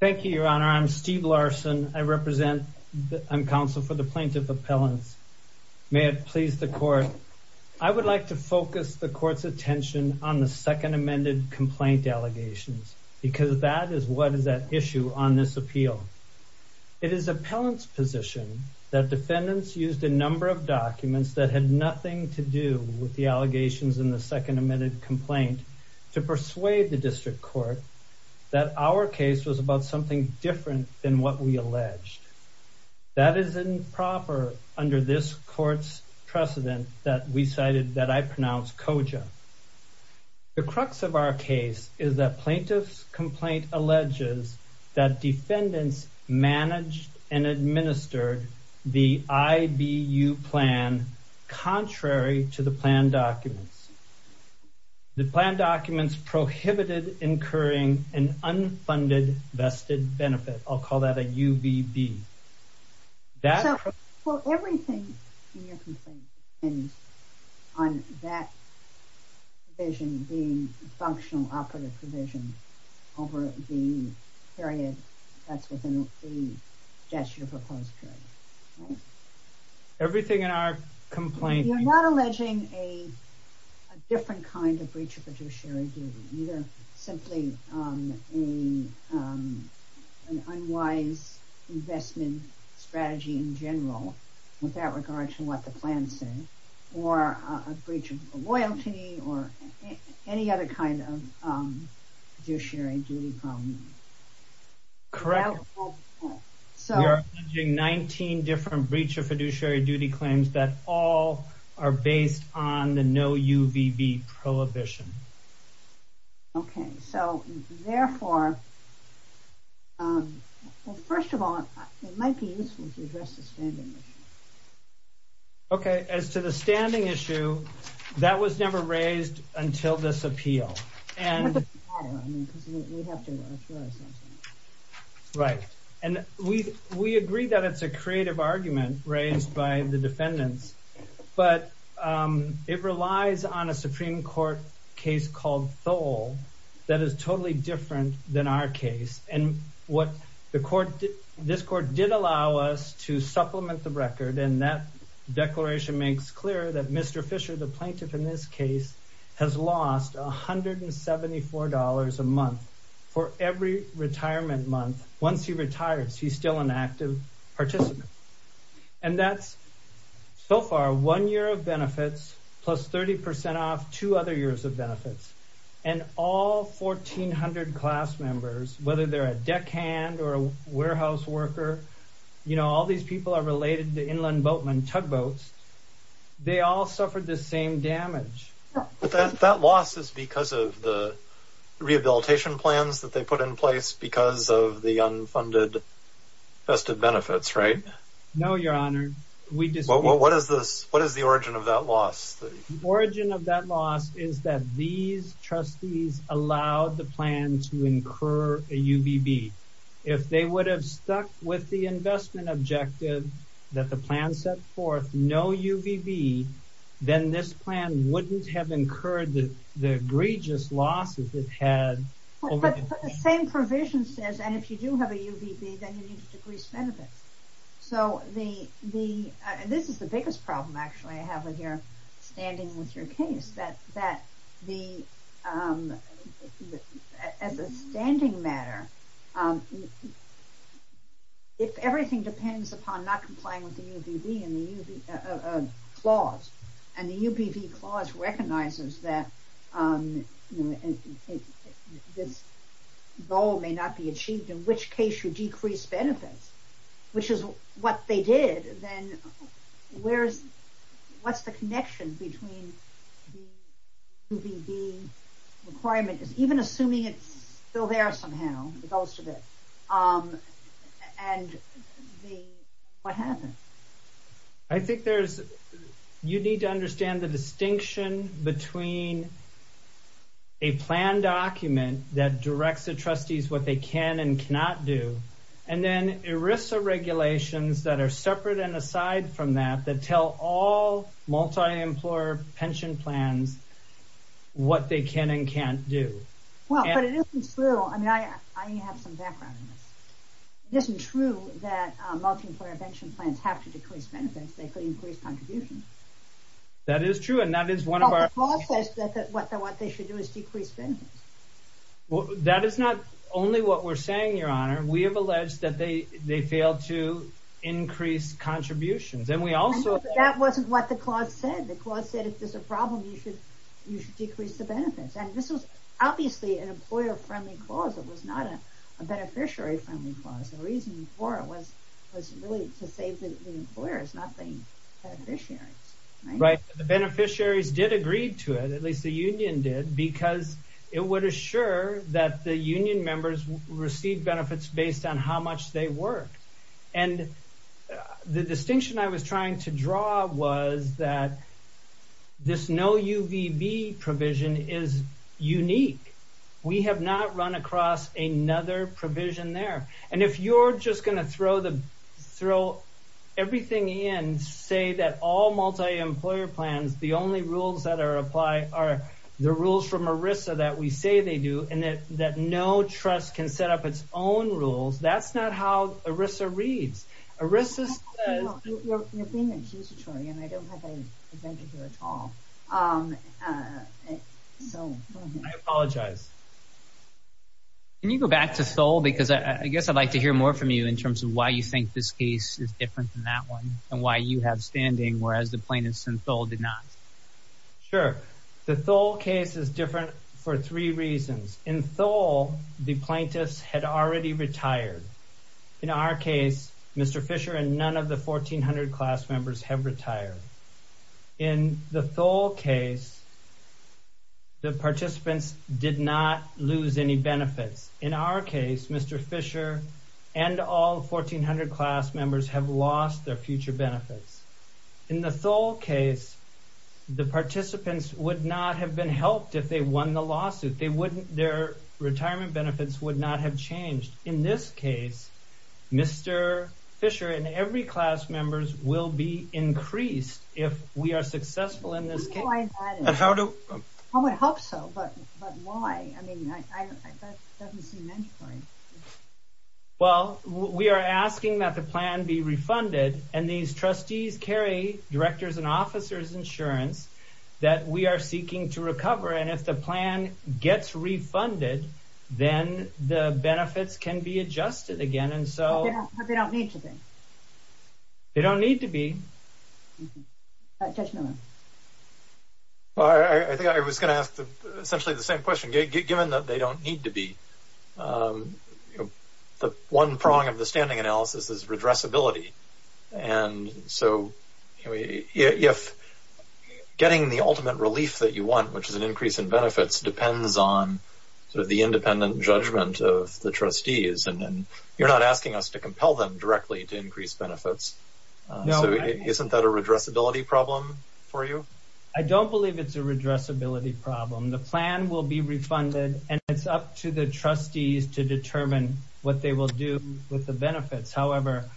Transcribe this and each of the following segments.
Thank you, Your Honor. I'm Steve Larson. I represent, I'm counsel for the plaintiff appellants. May it please the court, I would like to focus the court's attention on the second amended complaint allegations because that is what is at issue on this appeal. It is appellant's position that defendants used a number of documents that had nothing to do with the allegations in the second amended complaint to persuade the district court that our case was about something different than what we alleged. That is improper under this court's precedent that we cited that I pronounce COJA. The crux of our case is that plaintiff's complaint alleges that defendants managed and administered the IBU plan contrary to the plan documents. The plan documents prohibited incurring an unfunded vested benefit. I'll call that a UBB. So everything in your complaint depends on that provision being a functional operative provision over the period that's within the gesture proposed period, right? Everything in our complaint. You're not alleging a different kind of breach of fiduciary duty, either simply an unwise investment strategy in general with that regard to what the plan said, or a breach of loyalty, or any other kind of fiduciary duty problem? Correct. We are alleging 19 different breach of fiduciary duty claims that all are based on the no UBB prohibition. Okay, so therefore, first of all, it might be useful to address the standing issue. Okay, as to the standing issue, that was never raised until this appeal. Right. And we agree that it's a creative argument raised by the defendants, but it relies on a Supreme Court case called Thole that is totally different than our case. And what this court did allow us to supplement the record, and that declaration makes clear that Mr. Fisher, the retirement month, once he retires, he's still an active participant. And that's, so far, one year of benefits plus 30% off two other years of benefits. And all 1,400 class members, whether they're a deckhand or a warehouse worker, you know, all these people are related to inland boatmen, tugboats, they all suffered the same damage. That loss is because of the because of the unfunded vested benefits, right? No, your honor. What is the origin of that loss? Origin of that loss is that these trustees allowed the plan to incur a UBB. If they would have stuck with the investment objective that the plan set forth, no UBB, then this plan wouldn't have incurred the egregious losses it had. But the same provision says, and if you do have a UBB, then you need to decrease benefits. So the, this is the biggest problem, actually, I have with your standing with your case, that the, as a standing matter, if everything depends upon not complying with the UBB and the clause, and the UBB clause recognizes that this goal may not be achieved, in which case you decrease benefits, which is what they did, then where's, what's the connection between the UBB requirement, even assuming it's still there somehow, most of it, and what happened? I think there's, you need to understand the distinction between a plan document that directs the trustees what they can and cannot do, and then ERISA regulations that are separate and employer pension plans, what they can and can't do. Well, but it isn't true, I mean, I have some background in this. It isn't true that multi-employer pension plans have to decrease benefits, they could increase contributions. That is true, and that is one of our clauses that what they should do is decrease benefits. Well, that is not only what we're saying, your honor, we have alleged that they clause said if there's a problem you should decrease the benefits, and this was obviously an employer-friendly clause, it was not a beneficiary-friendly clause. The reason for it was was really to save the employers, not the beneficiaries. Right, the beneficiaries did agree to it, at least the union did, because it would assure that the union members received benefits based on how much they worked, and the distinction I was trying to draw was that this no UVB provision is unique. We have not run across another provision there, and if you're just going to throw everything in, say that all multi-employer plans, the only rules that we say they do, and that no trust can set up its own rules, that's not how ERISA reads. ERISA says... You're being accusatory, and I don't have any advantage here at all, so... I apologize. Can you go back to Thole? Because I guess I'd like to hear more from you in terms of why you think this case is different than that one, and why you have standing whereas the plaintiffs in Sure, the Thole case is different for three reasons. In Thole, the plaintiffs had already retired. In our case, Mr. Fisher and none of the 1400 class members have retired. In the Thole case, the participants did not lose any benefits. In our case, Mr. Fisher and all 1400 class members have lost their future benefits. In the Thole case, the participants would not have been helped if they won the lawsuit. Their retirement benefits would not have changed. In this case, Mr. Fisher and every class members will be increased if we are successful in this case. How do... I would hope so, but why? I mean, that doesn't seem mandatory. Well, we are asking that the plan be refunded, and these trustees carry directors and officers insurance that we are seeking to recover. And if the plan gets refunded, then the benefits can be adjusted again. And so... But they don't need to be? They don't need to be. Judge Miller? Well, I think I was going to ask essentially the same question. Given that they don't need to be, the one prong of the standing analysis is redressability. And so, if getting the ultimate relief that you want, which is an increase in benefits, depends on sort of the independent judgment of the trustees, and then you're not asking us to compel them directly to increase benefits. So, isn't that a redressability problem for you? I don't believe it's a redressability problem. The plan will be refunded, and it's up to the trustees to determine what they will do with the benefits. However,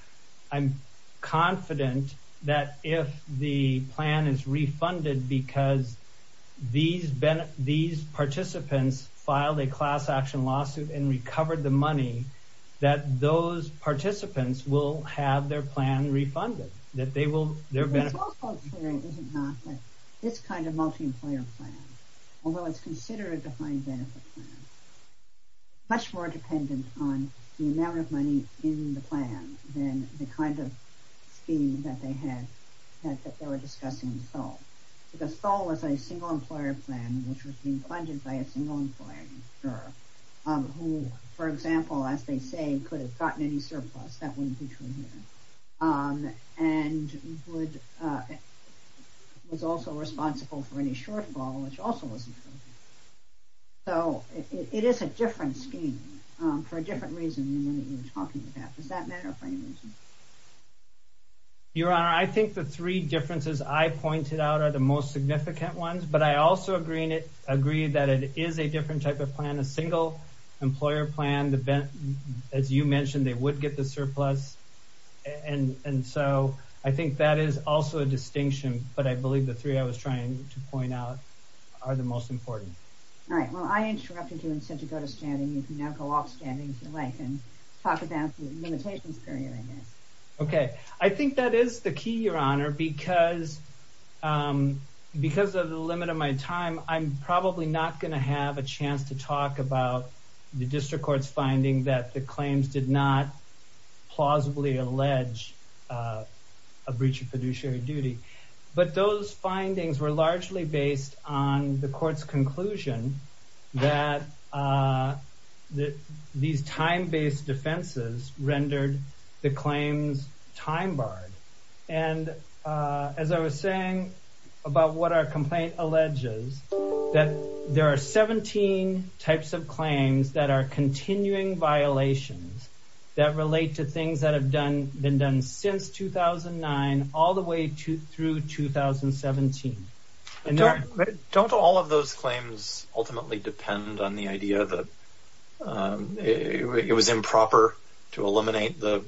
I'm confident that if the plan is refunded because these participants filed a class action lawsuit and recovered the refunded, that they will... It's also clear that this kind of multi-employer plan, although it's considered a defined benefit plan, is much more dependent on the amount of money in the plan than the kind of scheme that they were discussing in Seoul. Because Seoul was a single employer plan, which was being funded by a single employer, who, for example, as they say, could have gotten any surplus. That wouldn't be true here. And was also responsible for any shortfall, which also wasn't true. So, it is a different scheme for a different reason than what we were talking about. Does that matter for any reason? Your Honor, I think the three differences I pointed out are the most significant ones, but I also agree that it is a different type of plan. A single employer plan, as you mentioned, they would get the surplus. And so, I think that is also a distinction, but I believe the three I was trying to point out are the most important. All right. Well, I interrupted you and said to go to standing. You can now go off standing if you like and talk about the limitations period. Okay. I think that is the key, Your Honor, because of the limit of my time, I'm probably not going to have a chance to talk about the district court's finding that the claims did not plausibly allege a breach of fiduciary duty. But those findings were largely based on the court's conclusion that these time-based defenses rendered the claims time-barred. And as I was saying about what our complaint alleges, that there are 17 types of claims that are continuing violations that relate to things that have been done since 2009 all the way through 2017. Don't all of those claims ultimately depend on the idea that it was improper to eliminate the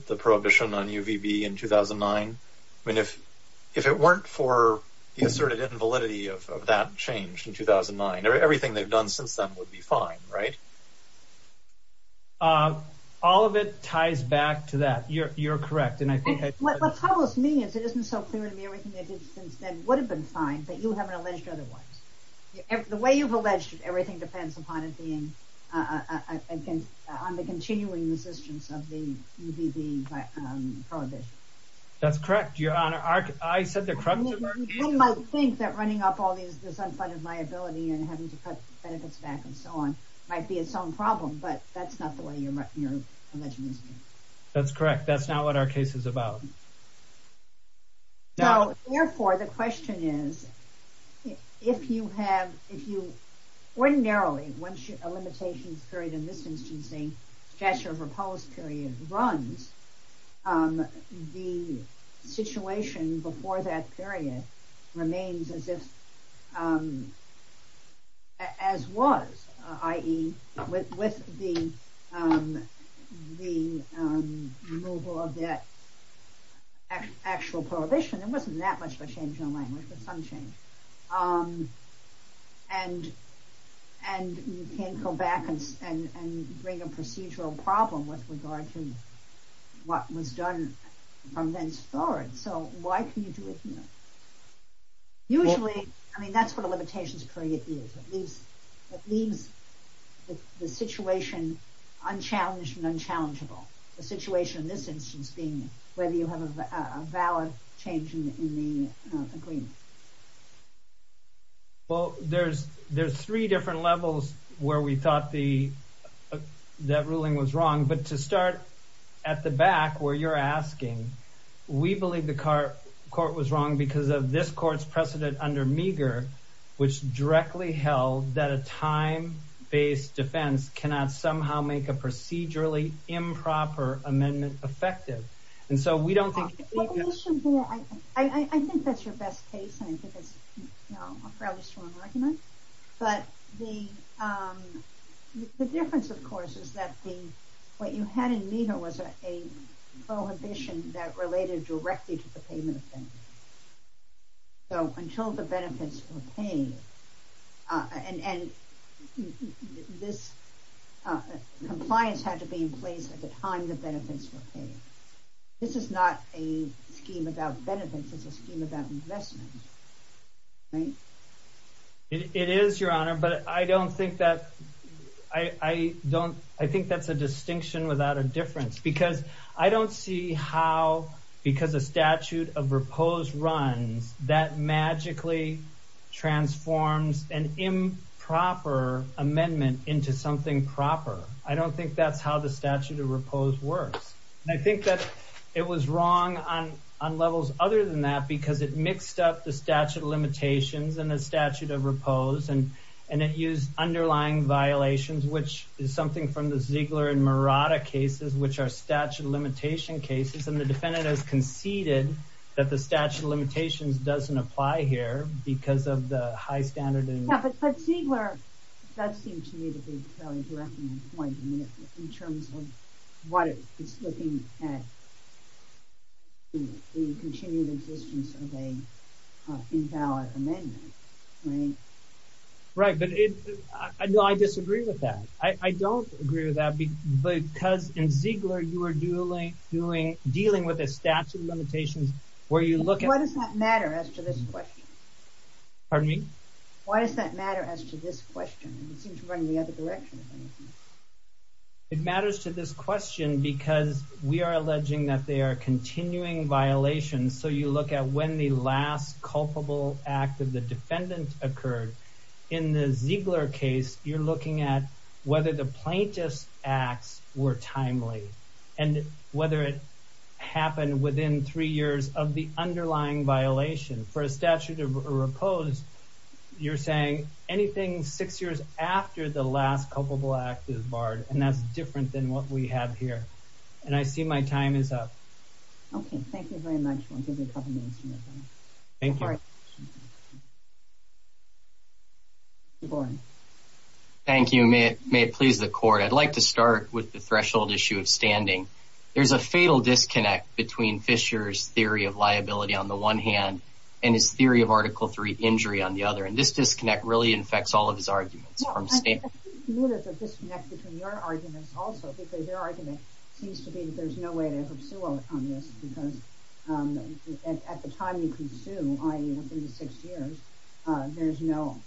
asserted invalidity of that change in 2009? Everything they've done since then would be fine, right? All of it ties back to that. You're correct. And I think what troubles me is it isn't so clear to me everything they did since then would have been fine, but you haven't alleged otherwise. The way you've alleged everything depends upon it being on the continuing resistance of the UVB prohibition. That's correct, Your Honor. I said the crux of our case. You might think that running up all this unfunded liability and having to cut benefits back and so on might be its own problem, but that's not the way you're alleging. That's correct. That's not what our case is about. Now, therefore, the question is, if you have, if you ordinarily, once a limitation is carried in this instance, a gesture of repose period runs, the situation before that period remains as if, as was, i.e., with the removal of that actual prohibition, it wasn't that much of a change in bring a procedural problem with regard to what was done from then forward. So why can you do it here? Usually, I mean, that's what a limitations period is. It leaves the situation unchallenged and unchallengeable. The situation in this instance being whether you have a valid change in the agreement. Well, there's three different levels where we thought that ruling was wrong, but to start at the back where you're asking, we believe the court was wrong because of this court's precedent under Meagher, which directly held that a time-based defense cannot somehow make a case. I think that's your best case, and I think that's a fairly strong argument. But the difference, of course, is that what you had in Meagher was a prohibition that related directly to the payment of benefits. So until the benefits were paid, and this compliance had to be in place at the time the benefits were paid. This is not a scheme about benefits. It's a scheme about investment, right? It is, Your Honor, but I don't think that's a distinction without a difference because I don't see how, because a statute of repose runs, that magically transforms an improper amendment into something proper. I don't think that's how the statute of repose works, and I think that it was wrong on levels other than that because it mixed up the statute of limitations and the statute of repose, and it used underlying violations, which is something from the Ziegler and Murata cases, which are statute of limitation cases, and the defendant has conceded that the That seems to me to be a fairly direct point in terms of what it's looking at the continued existence of an invalid amendment, right? Right, but I disagree with that. I don't agree with that because in Ziegler, you are dealing with a statute of limitations where you seem to run the other direction. It matters to this question because we are alleging that they are continuing violations, so you look at when the last culpable act of the defendant occurred. In the Ziegler case, you're looking at whether the plaintiff's acts were timely and whether it happened within three years of the underlying violation. For a statute of repose, you're saying anything six years after the last culpable act is barred, and that's different than what we have here, and I see my time is up. Okay, thank you very much. I'll give you a couple minutes. Thank you. Thank you. May it please the court. I'd like to start with the threshold issue of standing. There's a fatal disconnect between Fisher's theory of liability on the one hand and his theory of injury on the other, and this disconnect really infects all of his arguments. No, I think there's a disconnect between your arguments also because your argument seems to be that there's no way to ever sue on this because at the time you can sue, i.e. within six years, there's no,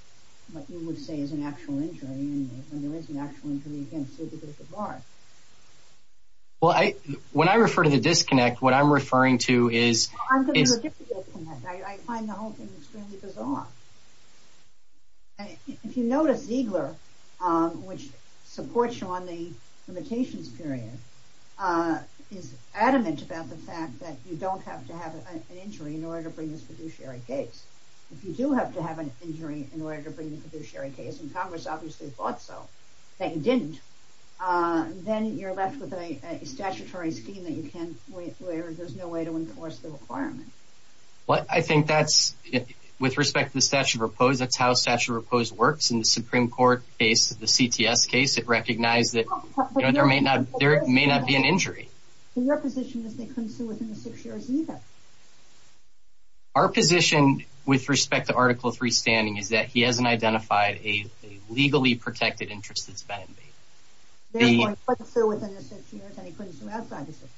what you would say is an actual injury, and when there is an actual injury, you can't sue because it's barred. Well, when I refer to the disconnect, what I'm referring to is... I'm going to give you a disconnect. I find the whole thing extremely bizarre. If you notice, Ziegler, which supports you on the limitations period, is adamant about the fact that you don't have to have an injury in order to bring this fiduciary case. If you do have to have an injury in order to bring the fiduciary case, and Congress obviously thought so, that you didn't, then you're left with a statutory scheme that you can't, there's no way to enforce the requirement. I think that's, with respect to the statute of repose, that's how the statute of repose works. In the Supreme Court case, the CTS case, it recognized that there may not be an injury. Your position is they couldn't sue within the six years either. Our position with respect to Article III standing is that he hasn't identified a legally protected interest that's been invaded. Therefore, he couldn't sue within the six years and he couldn't sue outside the six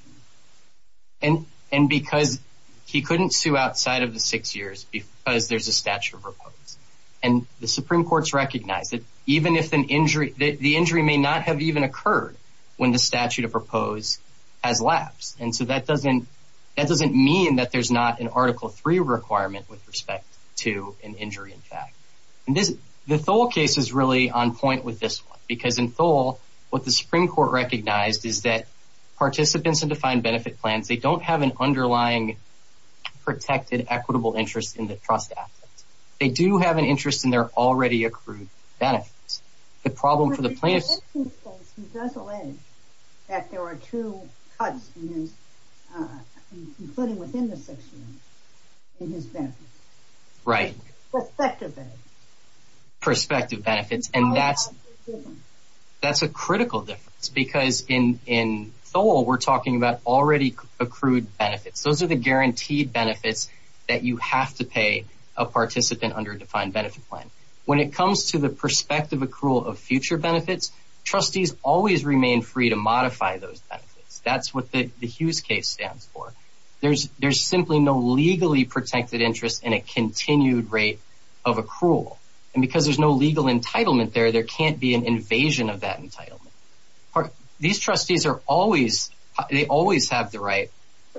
years. And because he couldn't sue outside of the six years because there's a statute of repose. And the Supreme Court's recognized that even if an injury, the injury may not have even occurred when the statute of repose has lapsed. And so that doesn't mean that there's not an Article III requirement with respect to an injury in fact. The Thole case is really on point with this one because in Thole, what the Supreme Court recognized is that participants in defined benefit plans, they don't have an underlying protected equitable interest in the trust asset. They do have an interest in their already accrued benefits. The problem for the plaintiff... But in the Thole case, he does allege that there were two cuts in his, including within the six years, in his benefits. Right. Prospective benefits. Prospective benefits. And that's a critical difference because in Thole, we're talking about already accrued benefits. Those are the guaranteed benefits that you have to pay a participant under a defined benefit plan. When it comes to the prospective accrual of future benefits, trustees always remain free to modify those benefits. That's what the Hughes case stands for. There's simply no legally protected interest in a continued rate of accrual. And because there's no legal entitlement there, there can't be an invasion of that entitlement. These trustees are always... They always have the right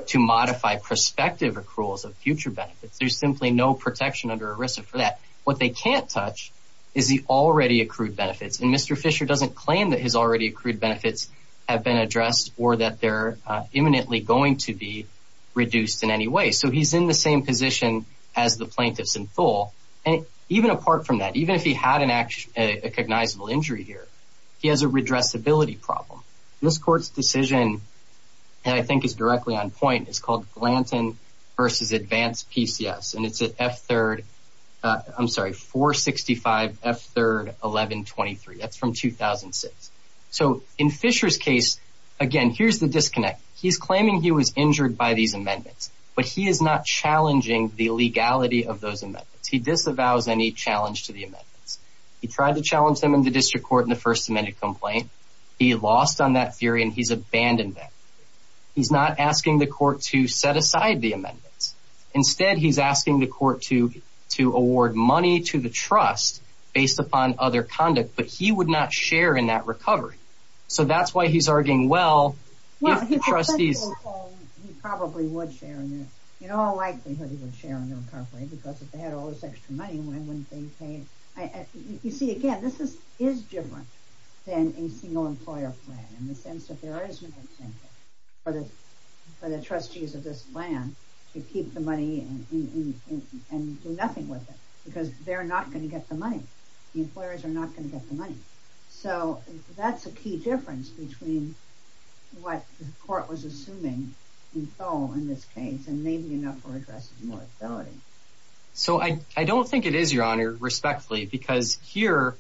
to modify prospective accruals of future benefits. There's simply no protection under ERISA for that. What they can't touch is the already accrued benefits. And Mr. Fisher doesn't claim that his already accrued benefits have been addressed or that they're imminently going to be reduced in any way. So he's in the same position as the plaintiffs in Thole. And even apart from that, even if he had a cognizable injury here, he has a redressability problem. This court's decision, and I think is directly on point, is called Glanton v. Advance PCS. And it's at F-3rd... I'm sorry, 465 F-3rd 1123. That's from 2006. So in Fisher's case, again, here's the disconnect. He's claiming he was injured by these amendments, but he is not challenging the legality of those amendments. He disavows any challenge to the amendments. He tried to challenge them in the district court in the First Amendment complaint. He lost on that theory, and he's abandoned that. He's not asking the court to set aside the amendments. Instead, he's asking the court to award money to the trust based upon other conduct, but he would not share in that recovery. So that's why he's arguing, well, if the trustees... Well, he probably would share in that. In all likelihood, he would share in the recovery because if they had all this extra money, why wouldn't they pay? You see, again, this is different than a single employer plan in the sense that there is no incentive for the trustees of this plan to keep the money and do nothing with it because they're not going to get the money. The employers are not going to get the money. So that's a key difference between what the court was assuming in this case, and maybe enough for addressing more stability. So I don't think it is, Your Honor, respectfully, because here,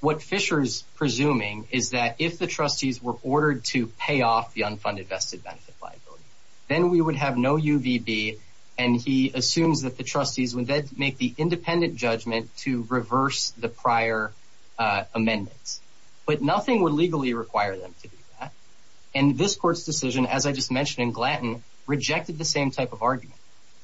what Fisher's presuming is that if the trustees were ordered to pay off the unfunded vested benefit liability, then we would have no UVB, and he assumes that the trustees would then make the independent judgment to reverse the prior amendments. But nothing would legally require them to do that. And this court's decision, as I just mentioned in Glanton, rejected the same type of argument.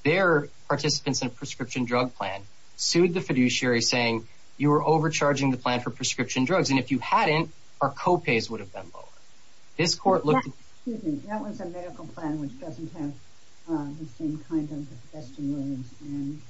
Their participants in a prescription drug plan sued the fiduciary, saying, you were overcharging the plan for prescription drugs, and if you hadn't, our co-pays would have been lower. This court looked... Excuse me, that was a medical plan, which doesn't have the same kind of vestigial wounds.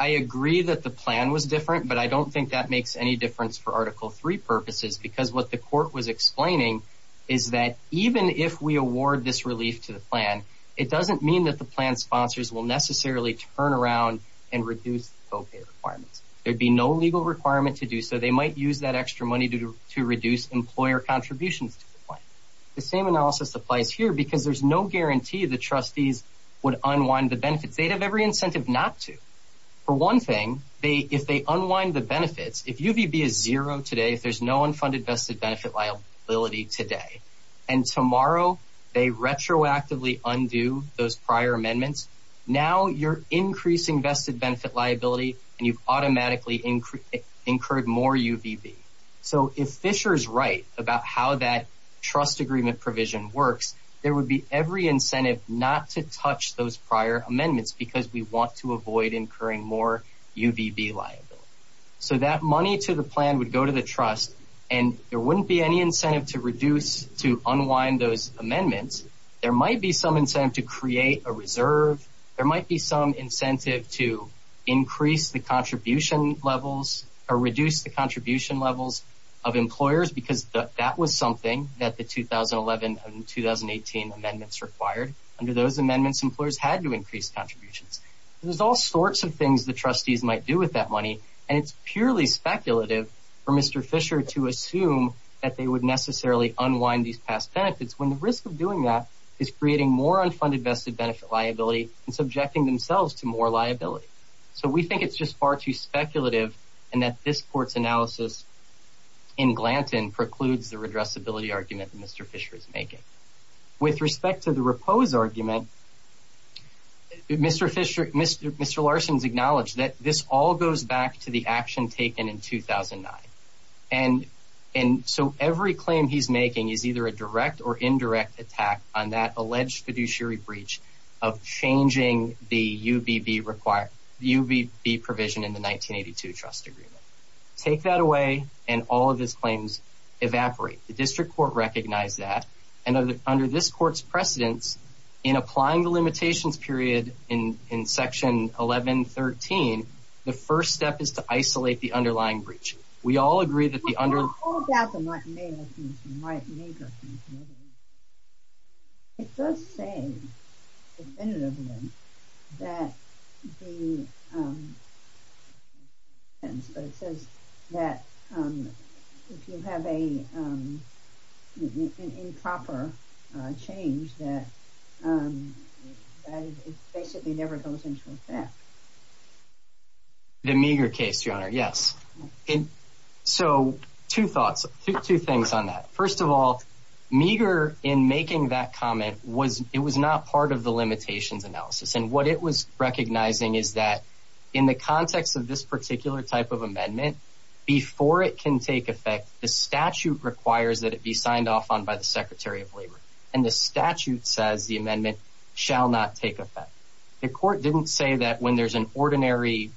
I agree that the plan was different, but I don't think that makes any difference for Article III purposes because what the court was explaining is that even if we award this relief to the plan, it doesn't mean that the plan sponsors will necessarily turn around and reduce the co-pay requirements. There'd be no legal requirement to do so. They might use that extra money to reduce employer contributions to the plan. The same analysis applies here because there's no guarantee the trustees would unwind the benefits. They'd have every incentive not to. For one thing, if they unwind the benefits, if UVB is zero today, there's no unfunded vested benefit liability today, and tomorrow they retroactively undo those prior amendments, now you're increasing vested benefit liability and you've automatically incurred more UVB. So if Fisher's right about how that trust agreement provision works, there would be every incentive not to touch those prior amendments because we want to avoid incurring more UVB liability. So that money to the plan would go to the trust and there wouldn't be any incentive to reduce, to unwind those amendments. There might be some incentive to create a reserve. There might be some incentive to increase the contribution levels or reduce the contribution levels of employers because that was something that the 2011 and 2018 amendments required. Under those amendments, employers had to increase contributions. There's all sorts of things the trustees might do with that money and it's purely speculative for Mr. Fisher to assume that they would necessarily unwind these past benefits when the risk of doing that is creating more unfunded vested benefit liability and subjecting themselves to more liability. So we think it's just far too speculative and that this court's analysis in Glanton precludes the redressability argument that Mr. Fisher is making. With respect to the repose argument, Mr. Larson's acknowledged that this all goes back to the action taken in 2009. And so every claim he's making is either a direct or indirect attack on that alleged fiduciary breach of changing the UVB provision in the 1982 trust agreement. Take that away and all of his claims evaporate. The district court recognized that and under this court's precedence in applying the limitations period in section 1113, the first step is to isolate the underlying breach. We all agree that the under... All about the Mike May case and Mike Meagher case. It does say definitively that the... But it says that if you have a improper change that it basically never goes into effect. The Meagher case, Your Honor, yes. And so two thoughts, two things on that. First of all, Meagher in making that comment was it was not part of the limitations analysis. And what it was recognizing is that in the context of this particular type of amendment, before it can take effect, the statute requires that it be signed off on by the Secretary of Labor. And the statute says the amendment shall not take effect. The court didn't say that when there's an ordinary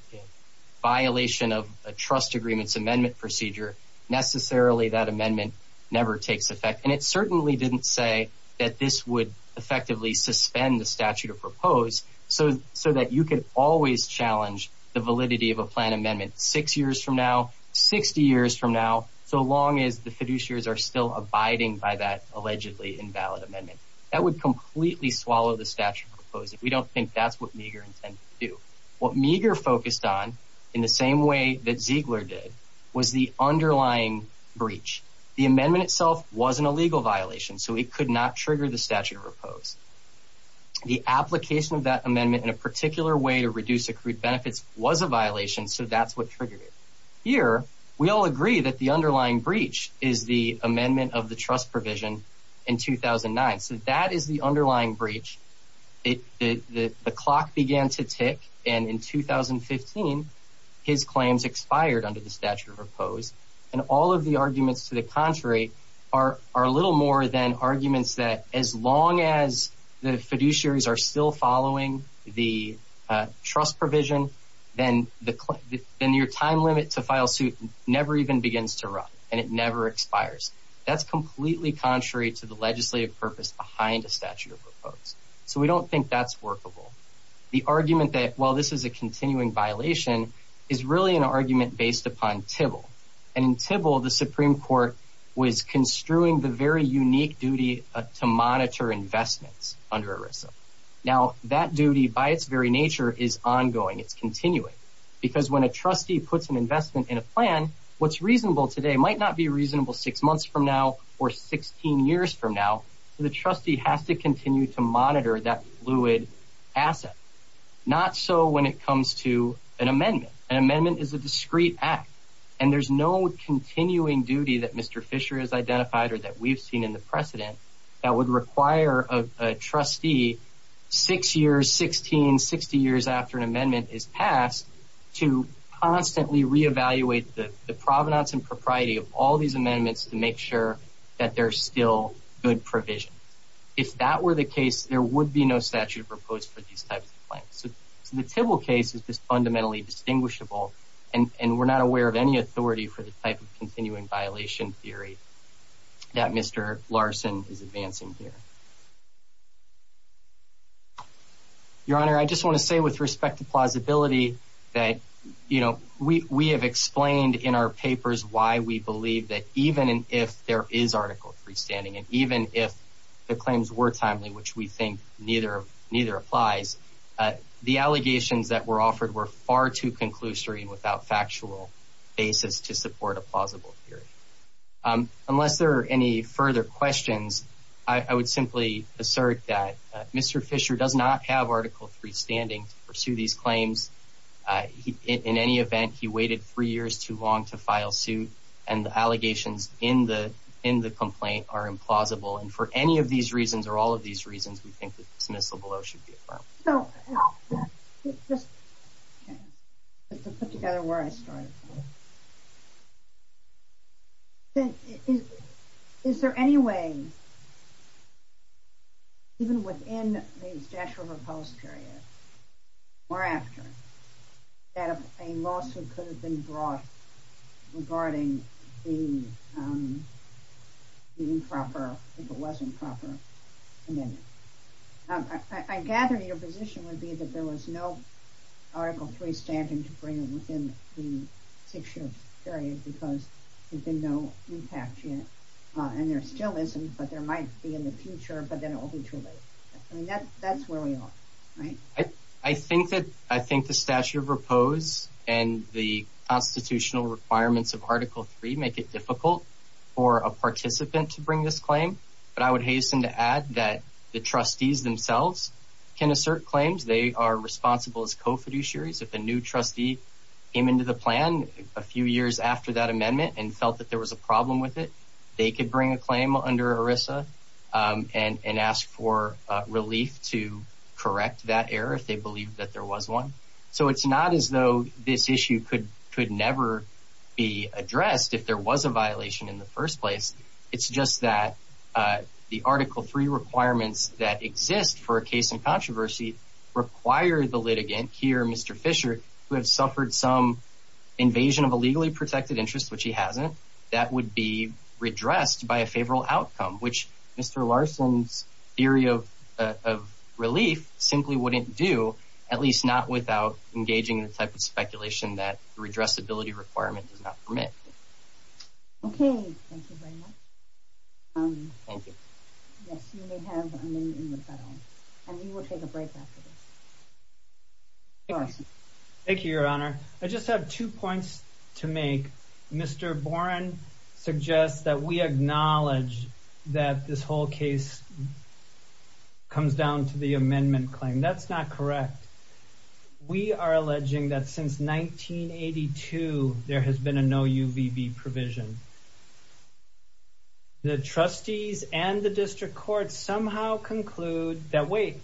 violation of a trust agreement's amendment procedure, necessarily that amendment never takes effect. And it certainly didn't say that this would effectively suspend the statute of proposed so that you could always challenge the validity of a plan amendment six years from now, 60 years from now, so long as the fiduciaries are still abiding by that allegedly invalid amendment. That would completely swallow the statute of proposed. We don't think that's what Meagher intended to do. What Meagher focused on, in the same way that Ziegler did, was the underlying breach. The amendment itself wasn't a legal violation, so it could not trigger the statute of proposed. The application of that amendment in a particular way to reduce accrued benefits was a violation, so that's what triggered it. Here, we all agree that the underlying breach is the amendment of the trust provision in 2009. So that is the underlying breach. It, the clock began to tick, and in 2015, his claims expired under the statute of proposed. And all of the arguments to the contrary are a little more than arguments that as long as the fiduciaries are still following the trust provision, then your time limit to file suit never even begins to run, and it never expires. That's completely contrary to the legislative purpose behind a statute of proposed. So we don't think that's workable. The argument that, well, this is a continuing violation, is really an argument based upon TIBL. And in TIBL, the Supreme Court was construing the very unique duty to monitor investments under ERISA. Now, that duty, by its very nature, is ongoing, it's continuing. Because when a trustee puts an investment in a plan, what's reasonable today might not be reasonable six months from now, or 16 years from now. The trustee has to continue to monitor that fluid asset. Not so when it comes to an amendment. An amendment is a discreet act. And there's no continuing duty that Mr. Fisher has identified, or that we've seen in the precedent, that would require a trustee six years, 16, 60 years after an amendment is passed, to constantly reevaluate the provenance and propriety of all these amendments to make sure that they're still good provisions. If that were the case, there would be no statute proposed for these types of claims. So the TIBL case is just fundamentally distinguishable, and we're not aware of any authority for the type of continuing violation theory that Mr. Larson is advancing here. Your Honor, I just want to say with respect to plausibility, that we have explained in our papers why we believe that even if there is Article III standing, and even if the claims were timely, which we think neither applies, the allegations that were offered were far too conclusory and without factual basis to support a plausible theory. Unless there are any further questions, I would simply assert that Mr. Fisher does not have Article III standing to pursue these claims. In any event, he waited three years too long to file suit, and the allegations in the complaint are implausible. And for any of these reasons, or all of these reasons, we think that dismissal below should be affirmed. So, just to put together where I started. Is there any way, even within the Dash River Post period, or after, that a lawsuit could have been brought regarding the improper, if it wasn't proper, amendment? I gather your position would be that there was no Article III standing to bring it within the six-year period because there's been no impact yet, and there still isn't, but there might be in the future, but then it will be too late. I mean, that's where we are, right? I think that the Statute of the Dash River Post and the constitutional requirements of Article III make it difficult for a participant to bring this claim, but I would hasten to add that the trustees themselves can assert claims. They are responsible as co-fiduciaries. If a new trustee came into the plan a few years after that amendment and felt that there was a problem with it, they could bring a claim under ERISA and ask for relief to correct that error if they believed that there was one. So it's not as though this issue could never be addressed if there was a violation in the first place. It's just that the Article III requirements that exist for a case in controversy require the litigant here, Mr. Fisher, who had suffered some invasion of a legally protected interest, which he hasn't, that would be redressed by a favorable outcome, which Mr. Larson's theory of relief simply wouldn't do, at least not without engaging in the type of speculation that the redressability requirement does not permit. Okay, thank you very much. Thank you. Yes, you may have a minute in the panel, and we will take a break after this. Thank you, Your Honor. I just have two points to make. Mr. Boren suggests that we acknowledge that this whole case comes down to the amendment claim. That's not correct. We are alleging that since 1982, there has been a no UVB provision. The trustees and the district courts somehow conclude that, wait,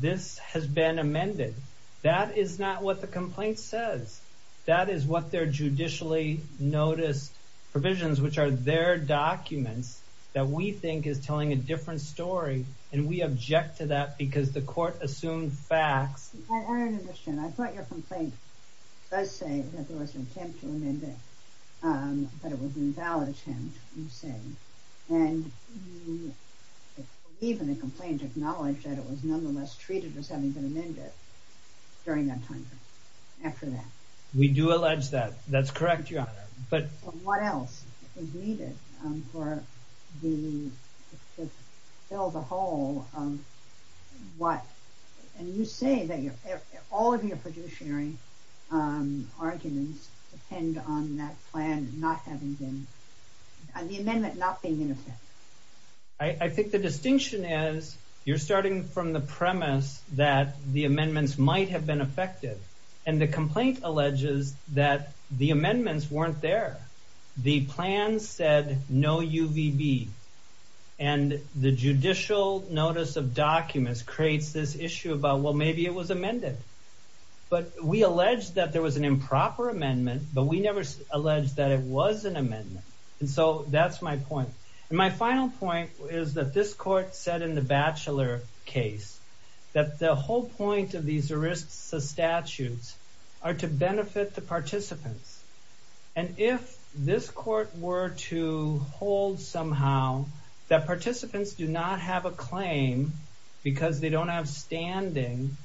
this has been amended. That is not what the complaint says. That is what their judicially noticed provisions, which are their documents, that we think is telling a different story, and we object to that because the court assumed facts. I thought your complaint does say that there was an attempt to amend it, but it was an invalid attempt, you say. And even the complaint acknowledged that it was nonetheless treated as having been amended during that time period, after that. We do allege that. That's correct, Your Honor. But what else is needed to fill the hole what, and you say that all of your productionary arguments depend on that plan not having been, the amendment not being in effect. I think the distinction is, you're starting from the premise that the amendments might have been effective, and the complaint alleges that the amendments weren't there. The plan said no UVB, and the judicial notice of documents creates this issue about, well, maybe it was amended. But we allege that there was an improper amendment, but we never alleged that it was an amendment. And so that's my point. And my final point is that this court said in the Batchelor case that the whole point of these ERISA statutes are to benefit the participants. And if this court were to hold somehow that participants do not have a claim because they don't have standing,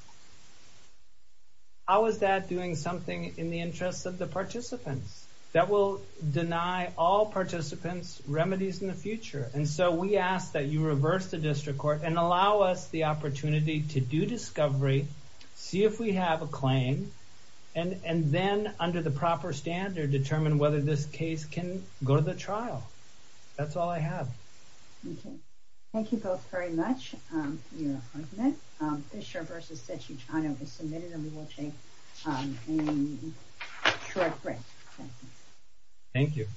how is that doing something in the interest of the participants? That will deny all participants remedies in the future. And so we ask that you reverse the district court and allow us the opportunity to do discovery, see if we have a claim, and then under the proper standard, determine whether this case can go to the trial. That's all I have. Okay. Thank you both very much for your argument. Fisher v. Cetutano was submitted, and we will take a short break. Thank you.